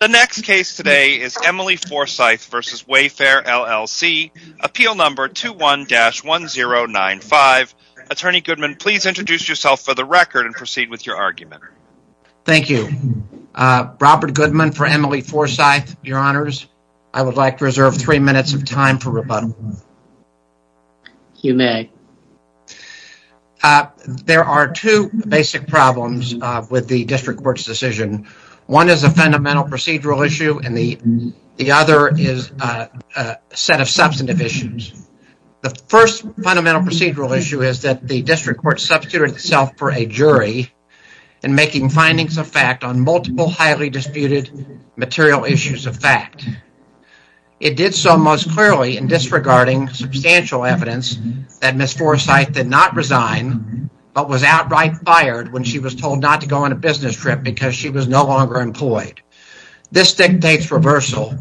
The next case today is Emily Forsythe v. Wayfair, LLC, appeal number 21-1095. Attorney Goodman, please introduce yourself for the record and proceed with your argument. Thank you. Robert Goodman for Emily Forsythe, your honors. I would like to reserve three minutes of time for rebuttal. You may. There are two basic problems with the procedural issue and the other is a set of substantive issues. The first fundamental procedural issue is that the district court substituted itself for a jury in making findings of fact on multiple highly disputed material issues of fact. It did so most clearly in disregarding substantial evidence that Ms. Forsythe did not resign but was outright fired when she was no longer employed. This dictates reversal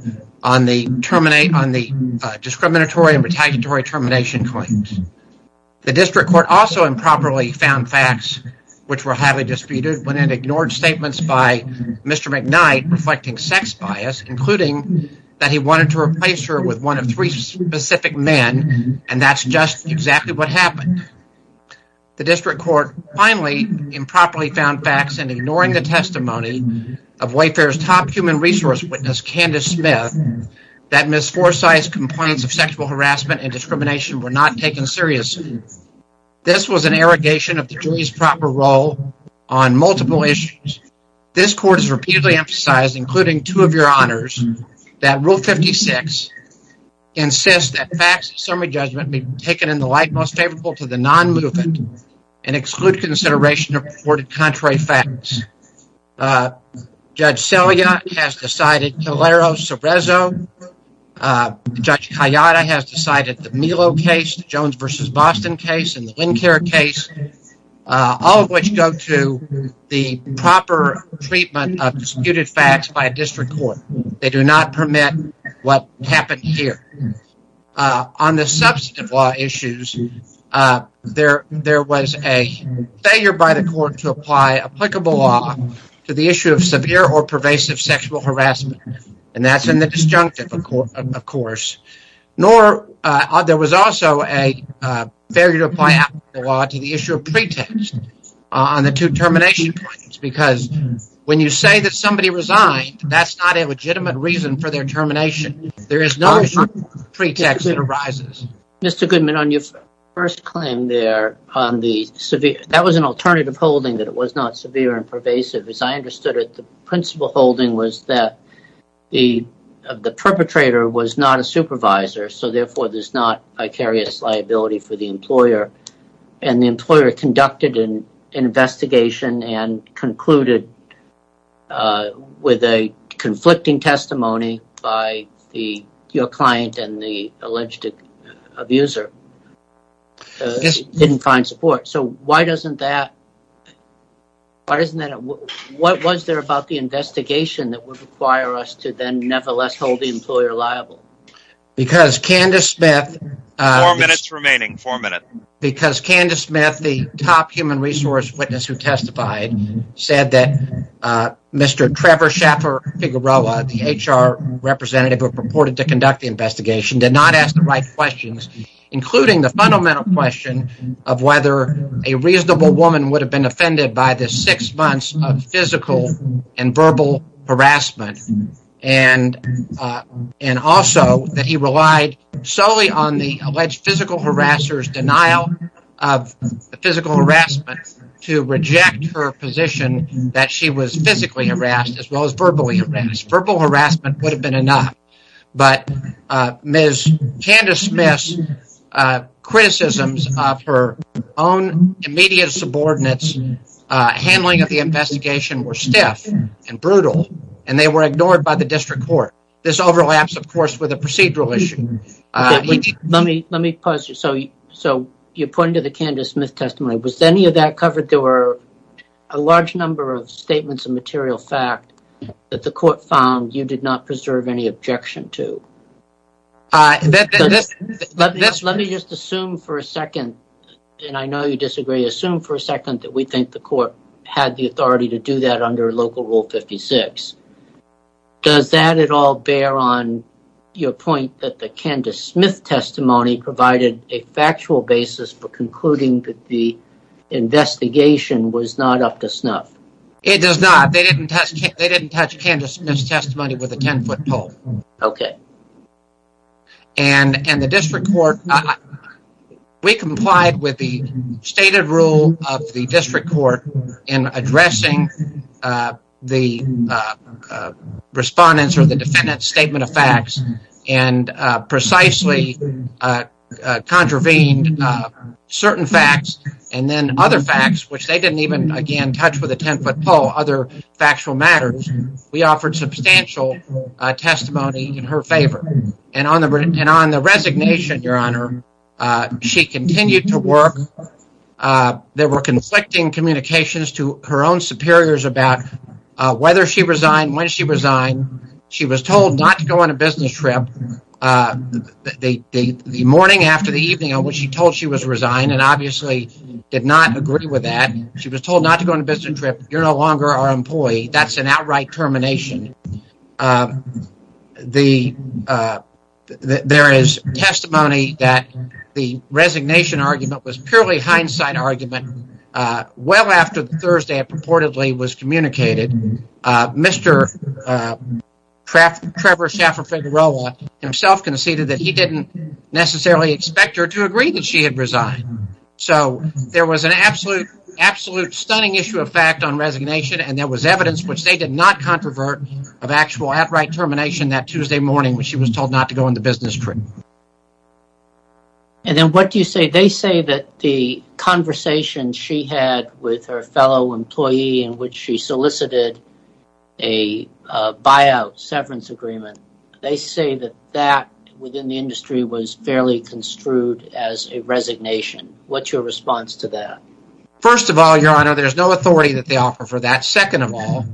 on the discriminatory and retaliatory termination claims. The district court also improperly found facts which were highly disputed when it ignored statements by Mr. McKnight reflecting sex bias including that he wanted to replace her with one of three specific men and that's just exactly what happened. The district court finally improperly found facts and ignoring the testimony of Wayfair's top human resource witness Candace Smith that Ms. Forsythe's complaints of sexual harassment and discrimination were not taken seriously. This was an irrigation of the jury's proper role on multiple issues. This court has repeatedly emphasized including two of your honors that rule 56 insists that facts summary judgment be taken in the light most favorable to the non-movement and exclude consideration of reported contrary facts. Judge Selya has decided Calero-Cerezo. Judge Kayada has decided the Melo case, the Jones versus Boston case, and the Lincare case, all of which go to the proper treatment of disputed facts by a district court. They do not permit what happened here. On the substantive law issues, there was a failure by the court to apply applicable law to the issue of severe or pervasive sexual harassment and that's in the disjunctive, of course, nor there was also a failure to apply the law to the issue of pretext on the two termination claims because when you say that somebody resigned, that's not a legitimate reason for their termination. There is no pretext that arises. Mr. Goodman, on your first claim there, that was an alternative holding that it was not severe and pervasive. As I understood it, the principal holding was that the perpetrator was not a supervisor so therefore there's not vicarious liability for the employer and the employer conducted an investigation and concluded with a conflicting testimony by your client and the alleged abuser didn't find support. So why doesn't that, why isn't that, what was there about the investigation that would require us to then nevertheless hold the employer liable? Because Candace Smith, four minutes remaining, four minutes, because Candace Smith, the top human resource witness who testified said that Mr. Trevor Schaffer-Figueroa, the HR representative who purported to ask the right questions, including the fundamental question of whether a reasonable woman would have been offended by the six months of physical and verbal harassment and also that he relied solely on the alleged physical harassers' denial of the physical harassment to reject her position that she was physically harassed as well as verbally harassed. Verbal harassment would have been enough but Ms. Candace Smith's criticisms of her own immediate subordinates' handling of the investigation were stiff and brutal and they were ignored by the district court. This overlaps, of course, with a procedural issue. Let me pause you. So you're pointing to the Candace Smith testimony. Was any of that covered? There were a large number of statements of objection, too. Let me just assume for a second, and I know you disagree, assume for a second that we think the court had the authority to do that under Local Rule 56. Does that at all bear on your point that the Candace Smith testimony provided a factual basis for concluding that the investigation was not up to snuff? It does not. They didn't touch Candace Smith's testimony with a 10-foot pole. Okay. And the district court, we complied with the stated rule of the district court in addressing the respondent's or the defendant's statement of facts and precisely contravened certain facts and then other facts, which they didn't even, again, touch with a 10-foot pole, other factual matters. We offered substantial testimony in her favor. And on the resignation, Your Honor, she continued to work. There were conflicting communications to her own superiors about whether she resigned, when she resigned. She was told not to go on a business trip the morning after the evening on which she told she was resigned and obviously did not agree with that. She was told not to go on a business trip. You're no longer our employee. That's an outright termination. There is testimony that the resignation argument was purely hindsight argument. Well after Thursday it purportedly was communicated, Mr. Trevor Schaffer-Figueroa himself conceded that he didn't necessarily expect her to agree that she had absolute stunning issue of fact on resignation and there was evidence, which they did not controvert, of actual outright termination that Tuesday morning when she was told not to go on the business trip. And then what do you say? They say that the conversation she had with her fellow employee in which she solicited a buyout severance agreement, they say that that within the industry was fairly construed as a resignation. What's your response to that? First of all, your honor, there's no authority that they offer for that. Second of all,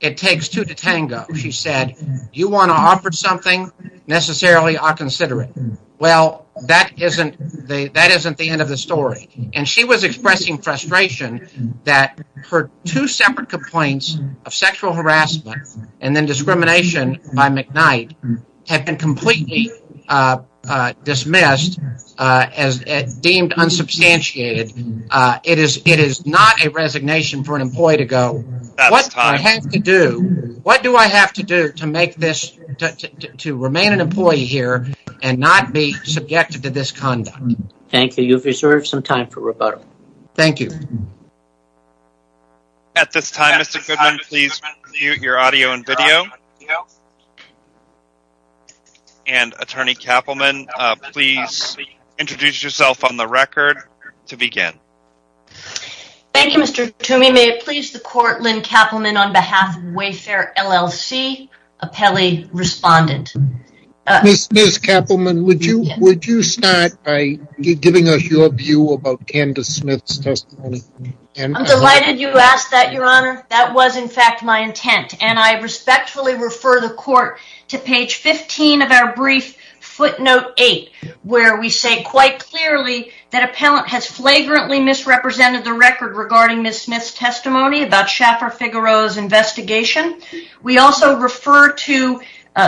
it takes two to tango. She said, you want to offer something, necessarily I'll consider it. Well, that isn't the end of the story. And she was expressing frustration that her two separate complaints of sexual harassment and then discrimination by McKnight have been completely dismissed as deemed unsubstantiated. It is not a resignation for an employee to go, what do I have to do to make this, to remain an employee here and not be subjected to this conduct? Thank you. You've reserved some time for rebuttal. Thank you. At this time, Mr. Goodman, please mute your audio and video. And Attorney Kappelman, please introduce yourself on the record to begin. Thank you, Mr. Toomey. May it please the court, Lynn Kappelman on behalf of Wayfair LLC, appellee respondent. Ms. Kappelman, would you start by giving us your view about Candace Smith's testimony? I'm delighted you asked that, your honor. That was my intent and I respectfully refer the court to page 15 of our brief footnote eight, where we say quite clearly that appellant has flagrantly misrepresented the record regarding Ms. Smith's testimony about Schaffer-Figaro's investigation. We also refer to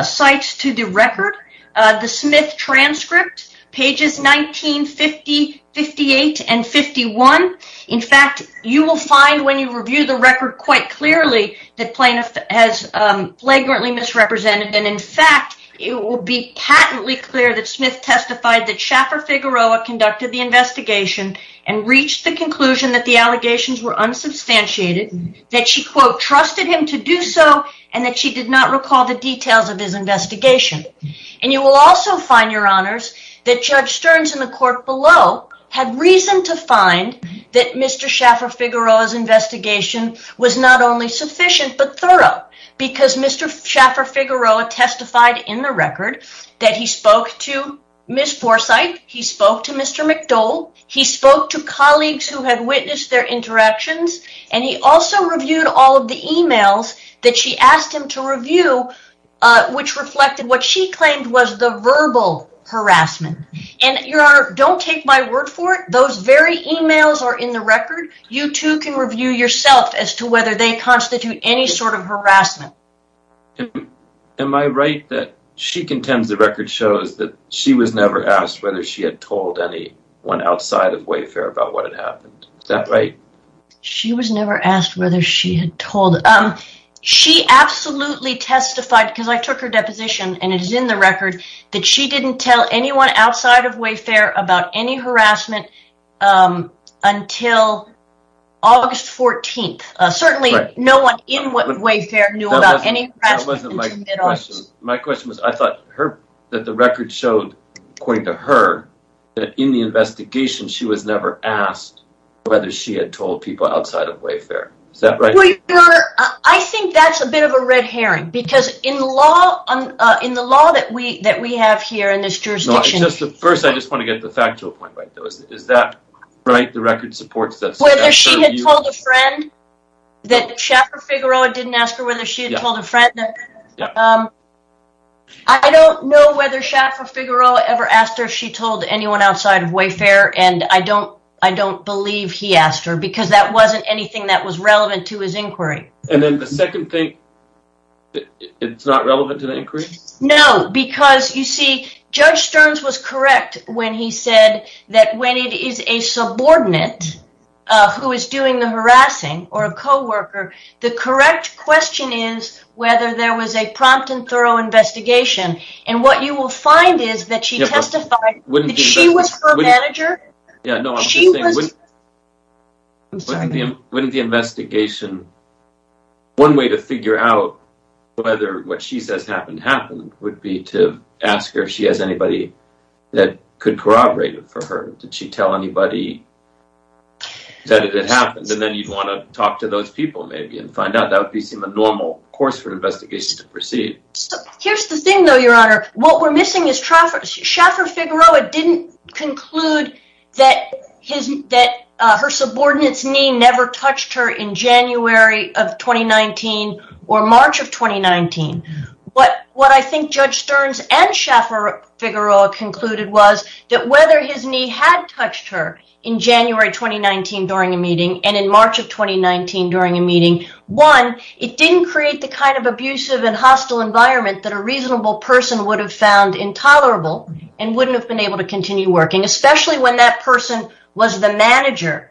sites to the record, the Smith transcript, pages 1950, 58 and 51. In fact, you will find when you review the record quite clearly that plaintiff has flagrantly misrepresented. And in fact, it will be patently clear that Smith testified that Schaffer-Figaro conducted the investigation and reached the conclusion that the allegations were unsubstantiated, that she, quote, trusted him to do so and that she did not recall the details of his investigation. And you will also find, your honors, that Judge Stearns in the court below had reason to find that Mr. Schaffer-Figaro's investigation was not only sufficient but thorough because Mr. Schaffer-Figaro testified in the record that he spoke to Ms. Forsythe, he spoke to Mr. McDole, he spoke to colleagues who had witnessed their interactions, and he also reviewed all of the emails that she asked him to review, which reflected what she claimed was the verbal harassment. And you too can review yourself as to whether they constitute any sort of harassment. Am I right that she contends the record shows that she was never asked whether she had told anyone outside of Wayfair about what had happened? Is that right? She was never asked whether she had told. She absolutely testified, because I took her deposition and it is in the record, that she didn't tell anyone outside of Wayfair about any harassment until August 14th. Certainly no one in Wayfair knew about any harassment. My question was, I thought that the record showed, according to her, that in the investigation she was never asked whether she had told people outside of Wayfair. Is that right? Your honor, I think that's a bit of a red herring, because in the law that we have here in this jurisdiction... First, I just want to get the factual point right, though. Is that right? The record supports that? Whether she had told a friend that Shaffer Figueroa didn't ask her whether she had told a friend. I don't know whether Shaffer Figueroa ever asked her if she told anyone outside of Wayfair, and I don't believe he asked her, because that wasn't anything that was relevant to his inquiry. And then the second thing, it's not relevant to the inquiry? No, because you see, Judge Stearns was correct when he said that when it is a subordinate who is doing the harassing, or a co-worker, the correct question is whether there was a prompt and thorough investigation. And what you will find is that she testified that she was her manager. Wouldn't the investigation... would be to ask her if she has anybody that could corroborate it for her? Did she tell anybody that it had happened? And then you'd want to talk to those people, maybe, and find out. That would seem a normal course for an investigation to proceed. Here's the thing, though, Your Honor. What we're missing is Shaffer Figueroa didn't conclude that her subordinate's knee touched her in January of 2019 or March of 2019. What I think Judge Stearns and Shaffer Figueroa concluded was that whether his knee had touched her in January 2019 during a meeting and in March of 2019 during a meeting, one, it didn't create the kind of abusive and hostile environment that a reasonable person would have found intolerable and wouldn't have been able to continue working, especially when that person was the manager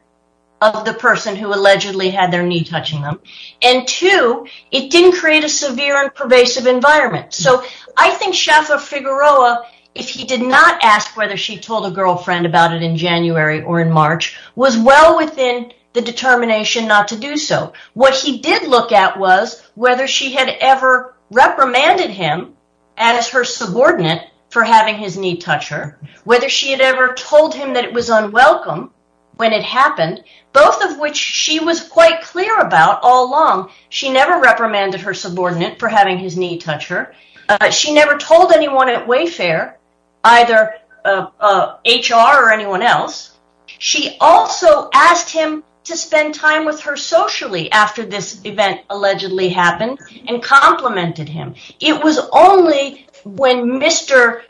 of the person who allegedly had their knee touching them. And two, it didn't create a severe and pervasive environment. So I think Shaffer Figueroa, if he did not ask whether she told a girlfriend about it in January or in March, was well within the determination not to do so. What he did look at was whether she had ever reprimanded him as her subordinate for having his knee touch her, whether she had ever told him that it was unwelcome when it happened, both of which she was quite clear about all along. She never reprimanded her subordinate for having his knee touch her. She never told anyone at Wayfair, either HR or anyone else. She also asked him to spend time with her socially after this event allegedly happened and complimented him. It was only when Mr.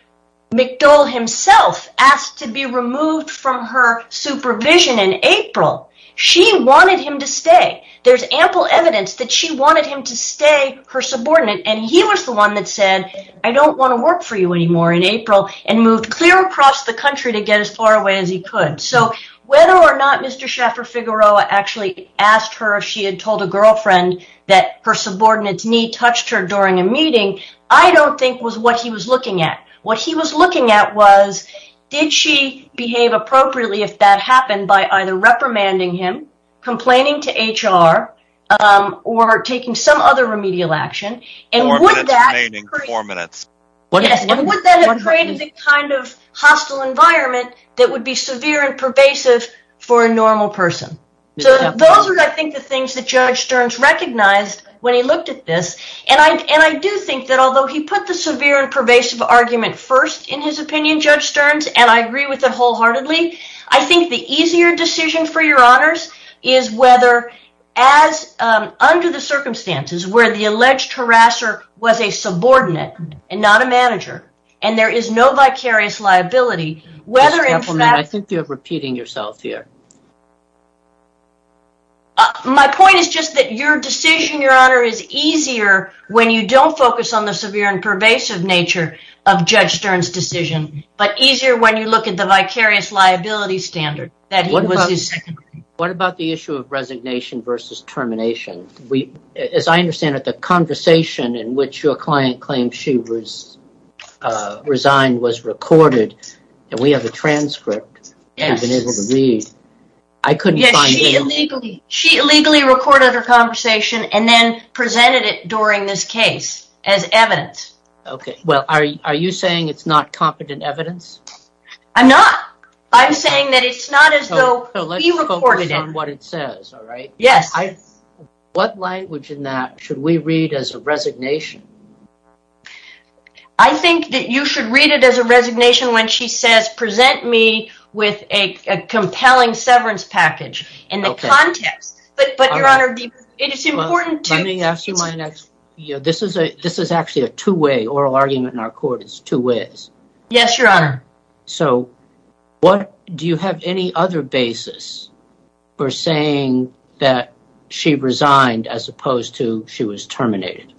McDole himself asked to be removed from her supervision in April, she wanted him to stay. There's ample evidence that she wanted him to stay her subordinate, and he was the one that said, I don't want to work for you anymore in April and moved clear across the country to get as far away as he could. So whether or not Mr. Shaffer actually asked her if she had told a girlfriend that her subordinate's knee touched her during a meeting, I don't think was what he was looking at. What he was looking at was, did she behave appropriately if that happened by either reprimanding him, complaining to HR, or taking some other remedial action? Would that have created the kind of hostile environment that would be severe and pervasive? Those are, I think, the things that Judge Stearns recognized when he looked at this, and I do think that although he put the severe and pervasive argument first in his opinion, Judge Stearns, and I agree with it wholeheartedly, I think the easier decision for your honors is whether, under the circumstances where the alleged harasser was a subordinate and not a manager, and there is no vicarious liability, whether in fact... I think you're repeating yourself here. My point is just that your decision, your honor, is easier when you don't focus on the severe and pervasive nature of Judge Stearns' decision, but easier when you look at the vicarious liability standard that he was his... What about the issue of resignation versus termination? As I understand it, the conversation in which your client claimed she resigned was recorded, and we have a transcript that we've been able to read. I couldn't find it. She illegally recorded her conversation and then presented it during this case as evidence. Okay. Well, are you saying it's not competent evidence? I'm not. I'm saying that it's not as though we recorded it. So let's focus on what it says, all right? Yes. What language in that should we read as a resignation? I think that you should read it as a with a compelling severance package in the context. But your honor, it is important to... Let me ask you my next... This is actually a two-way oral argument in our court. It's two ways. Yes, your honor. So do you have any other basis for saying that she resigned as opposed to she was terminated?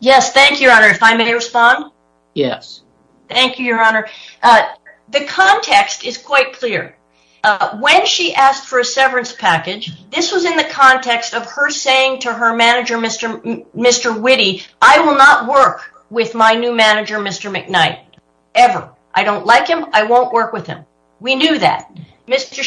Yes. Thank you, your honor. If I may respond? Yes. Thank you, your honor. The context is quite clear. When she asked for a severance package, this was in the context of her saying to her manager, Mr. Whitty, I will not work with my new manager, Mr. McKnight, ever. I don't like him. I won't work with him. We knew that. Mr.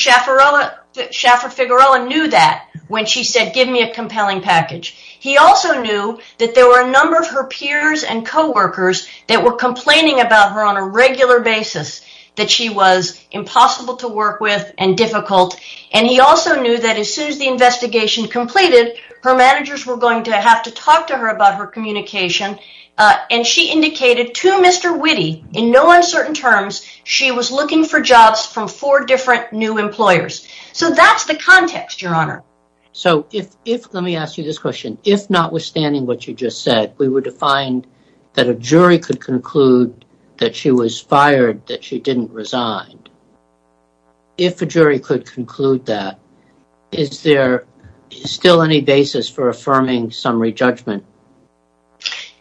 Schiaffarella knew that when she said, give me a compelling package. He also knew that there were a number of peers and co-workers that were complaining about her on a regular basis, that she was impossible to work with and difficult. And he also knew that as soon as the investigation completed, her managers were going to have to talk to her about her communication. And she indicated to Mr. Whitty, in no uncertain terms, she was looking for jobs from four different new employers. So that's the context, your honor. So if... Let me ask you this question. If notwithstanding what you just said, we were to find that a jury could conclude that she was fired, that she didn't resign. If a jury could conclude that, is there still any basis for affirming summary judgment?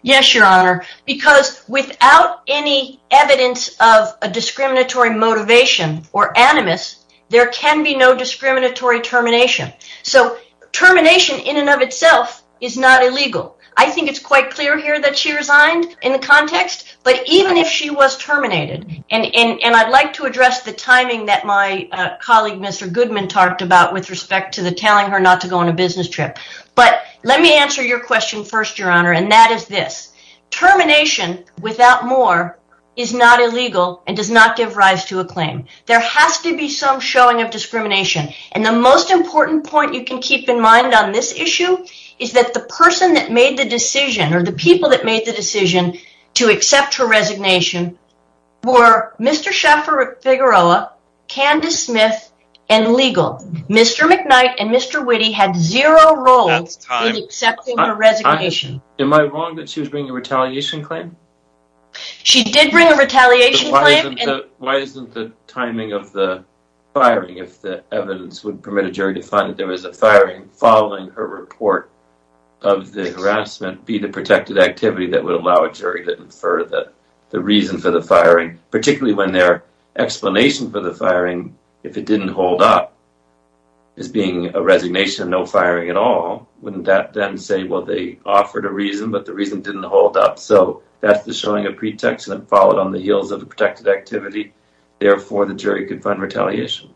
Yes, your honor. Because without any evidence of a discriminatory motivation or animus, there can be no discriminatory termination. So termination in and of itself is not illegal. I think it's quite clear here that she resigned in the context, but even if she was terminated, and I'd like to address the timing that my colleague Mr. Goodman talked about with respect to the telling her not to go on a business trip. But let me answer your question first, your honor, and that is this. Termination without more is not illegal and does not give rise to a claim. There has to be some showing of discrimination. And the most important point you can keep in mind on this issue is that the person that made the decision, or the people that made the decision, to accept her resignation were Mr. Shaffer-Figueroa, Candace Smith, and legal. Mr. McKnight and Mr. Witte had zero role in accepting her resignation. Am I wrong that she was bringing a retaliation claim? She did bring a retaliation claim. Why isn't the timing of the firing, if the evidence would permit a jury to find that there was a firing following a report of the harassment, be the protected activity that would allow a jury to infer that the reason for the firing, particularly when their explanation for the firing, if it didn't hold up, as being a resignation, no firing at all, wouldn't that then say, well, they offered a reason, but the reason didn't hold up. So that's the showing of pretext that followed on the heels of a protected activity. Therefore, the jury could find retaliation.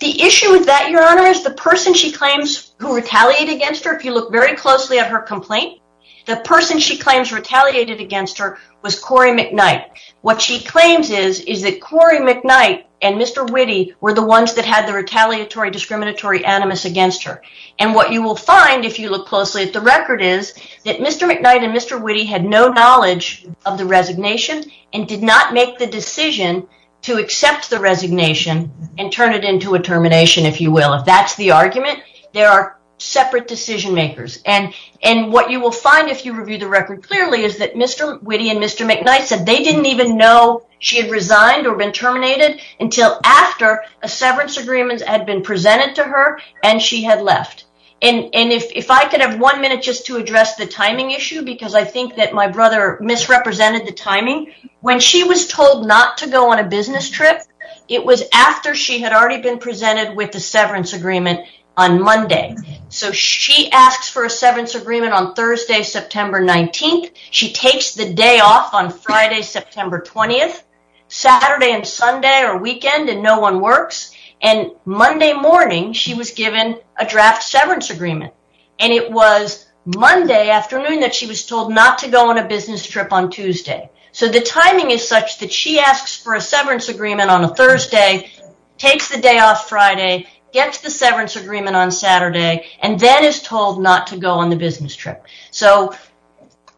The issue with that, your the person she claims who retaliated against her, if you look very closely at her complaint, the person she claims retaliated against her was Corey McKnight. What she claims is, is that Corey McKnight and Mr. Witte were the ones that had the retaliatory discriminatory animus against her. And what you will find, if you look closely at the record, is that Mr. McKnight and Mr. Witte had no knowledge of the resignation and did not make the decision to accept the resignation and turn it into a termination, if you will. If that's the argument, there are separate decision makers. And what you will find, if you review the record clearly, is that Mr. Witte and Mr. McKnight said they didn't even know she had resigned or been terminated until after a severance agreement had been presented to her and she had left. And if I could have one minute just to address the timing issue, because I think that my brother misrepresented the timing, when she was told not to go on a business trip, it was after she had already been presented with the severance agreement on Monday. So she asks for a severance agreement on Thursday, September 19th. She takes the day off on Friday, September 20th, Saturday and Sunday are weekend and no one works. And Monday morning, she was given a draft severance agreement. And it was Monday afternoon that she was told not to go on a business trip on Tuesday. So the timing is such that she asks for a severance agreement on a Thursday, takes the day off Friday, gets the severance agreement on Saturday, and then is told not to go on the business trip. So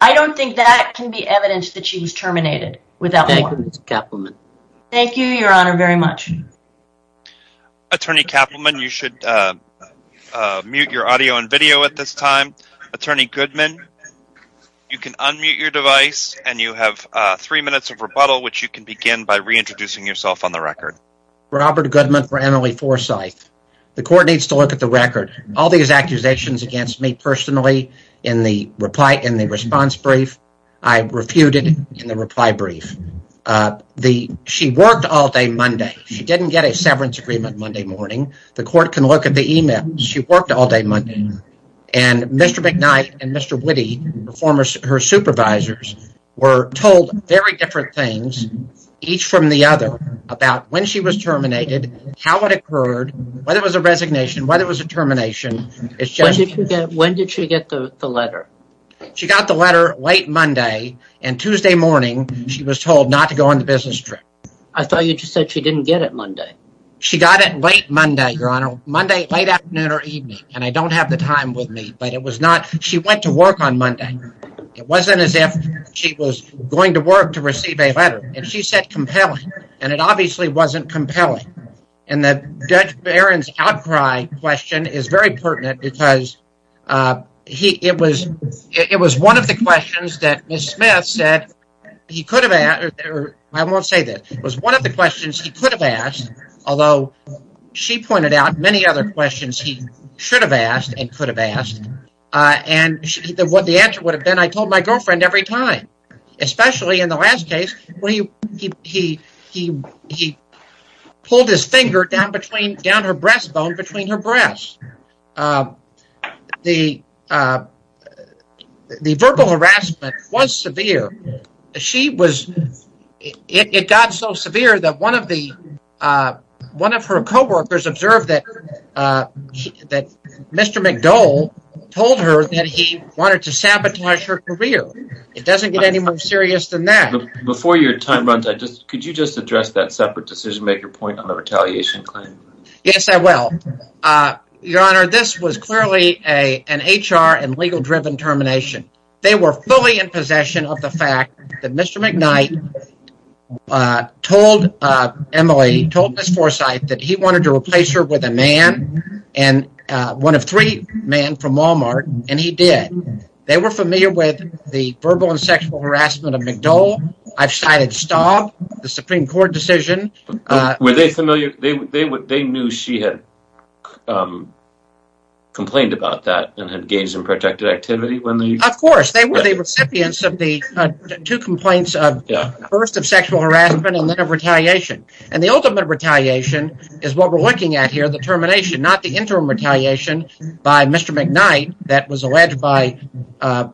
I don't think that can be evidence that she was terminated. Thank you, Ms. Kapleman. Thank you, Your Honor, very much. Attorney Kapleman, you should mute your audio and video at this time. Attorney Goodman, you can unmute your device and you have three minutes of rebuttal, which you can begin by reintroducing yourself on the record. Robert Goodman for Emily Forsyth. The court needs to look at the record. All these accusations against me personally in the response brief, I refuted in the reply brief. She worked all day Monday. She didn't get a severance agreement Monday morning. The court can look at the email. She worked all day Monday. And Mr. McKnight and Mr. Witte, her supervisors, were told very different things, each from the other, about when she was terminated, how it occurred, whether it was a resignation, whether it was a termination. When did she get the letter? She got the letter late Monday. And Tuesday morning, she was told not to go on the business trip. I thought you just said she didn't get it Monday. She got it late Monday, Your Honor, late afternoon or evening. And I don't have the time with me, but it was not. She went to work on Monday. It wasn't as if she was going to work to receive a letter. And she said compelling. And it obviously wasn't compelling. And the judge baron's outcry question is very pertinent because it was one of the questions that Ms. Smith said he could have asked. I won't say that. It was one of the questions he could have asked, although she pointed out many other questions he should have asked and could have asked. And what the answer would have been, I told my girlfriend every time, especially in the last case, where he pulled his finger down her breastbone between her breasts. The verbal harassment was severe. It got so severe that one of her co-workers observed that Mr. McDole told her that he wanted to sabotage her career. It doesn't get any more serious than that. Before your time runs out, could you just address that separate decision-maker point on the retaliation claim? Yes, I will. Your Honor, this was clearly an HR and legal-driven termination. They were fully in possession of the fact that Mr. McKnight told Emily, told Ms. Forsythe, that he wanted to replace her with a man, and one of three men from Walmart, and he did. They were familiar with the verbal and sexual harassment of McDole. I've cited Staub, the Supreme Court decision. Were they familiar? They knew she had complained about that and had engaged in protracted activity when they... Of course. They were the recipients of the two complaints, first of sexual harassment and then of retaliation. The ultimate retaliation is what we're looking at here, the termination, not the interim retaliation by Mr. McKnight that was alleged by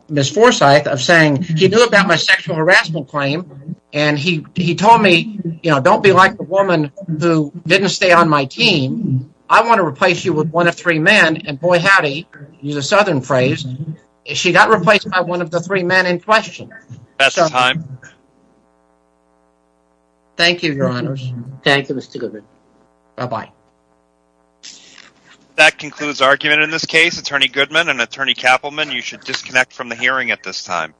Ms. Forsythe of saying, he knew about my sexual harassment claim, and he told me, you know, don't be like the woman who didn't stay on my team. I want to replace you with one of three men, and boy, howdy, use a southern phrase, she got replaced by one of the three men in question. That's the time. Thank you, Your Honors. Thank you, Mr. Goodman. Bye-bye. That concludes argument in this case. Attorney Goodman and Attorney Kappelman, you should disconnect from the hearing at this time.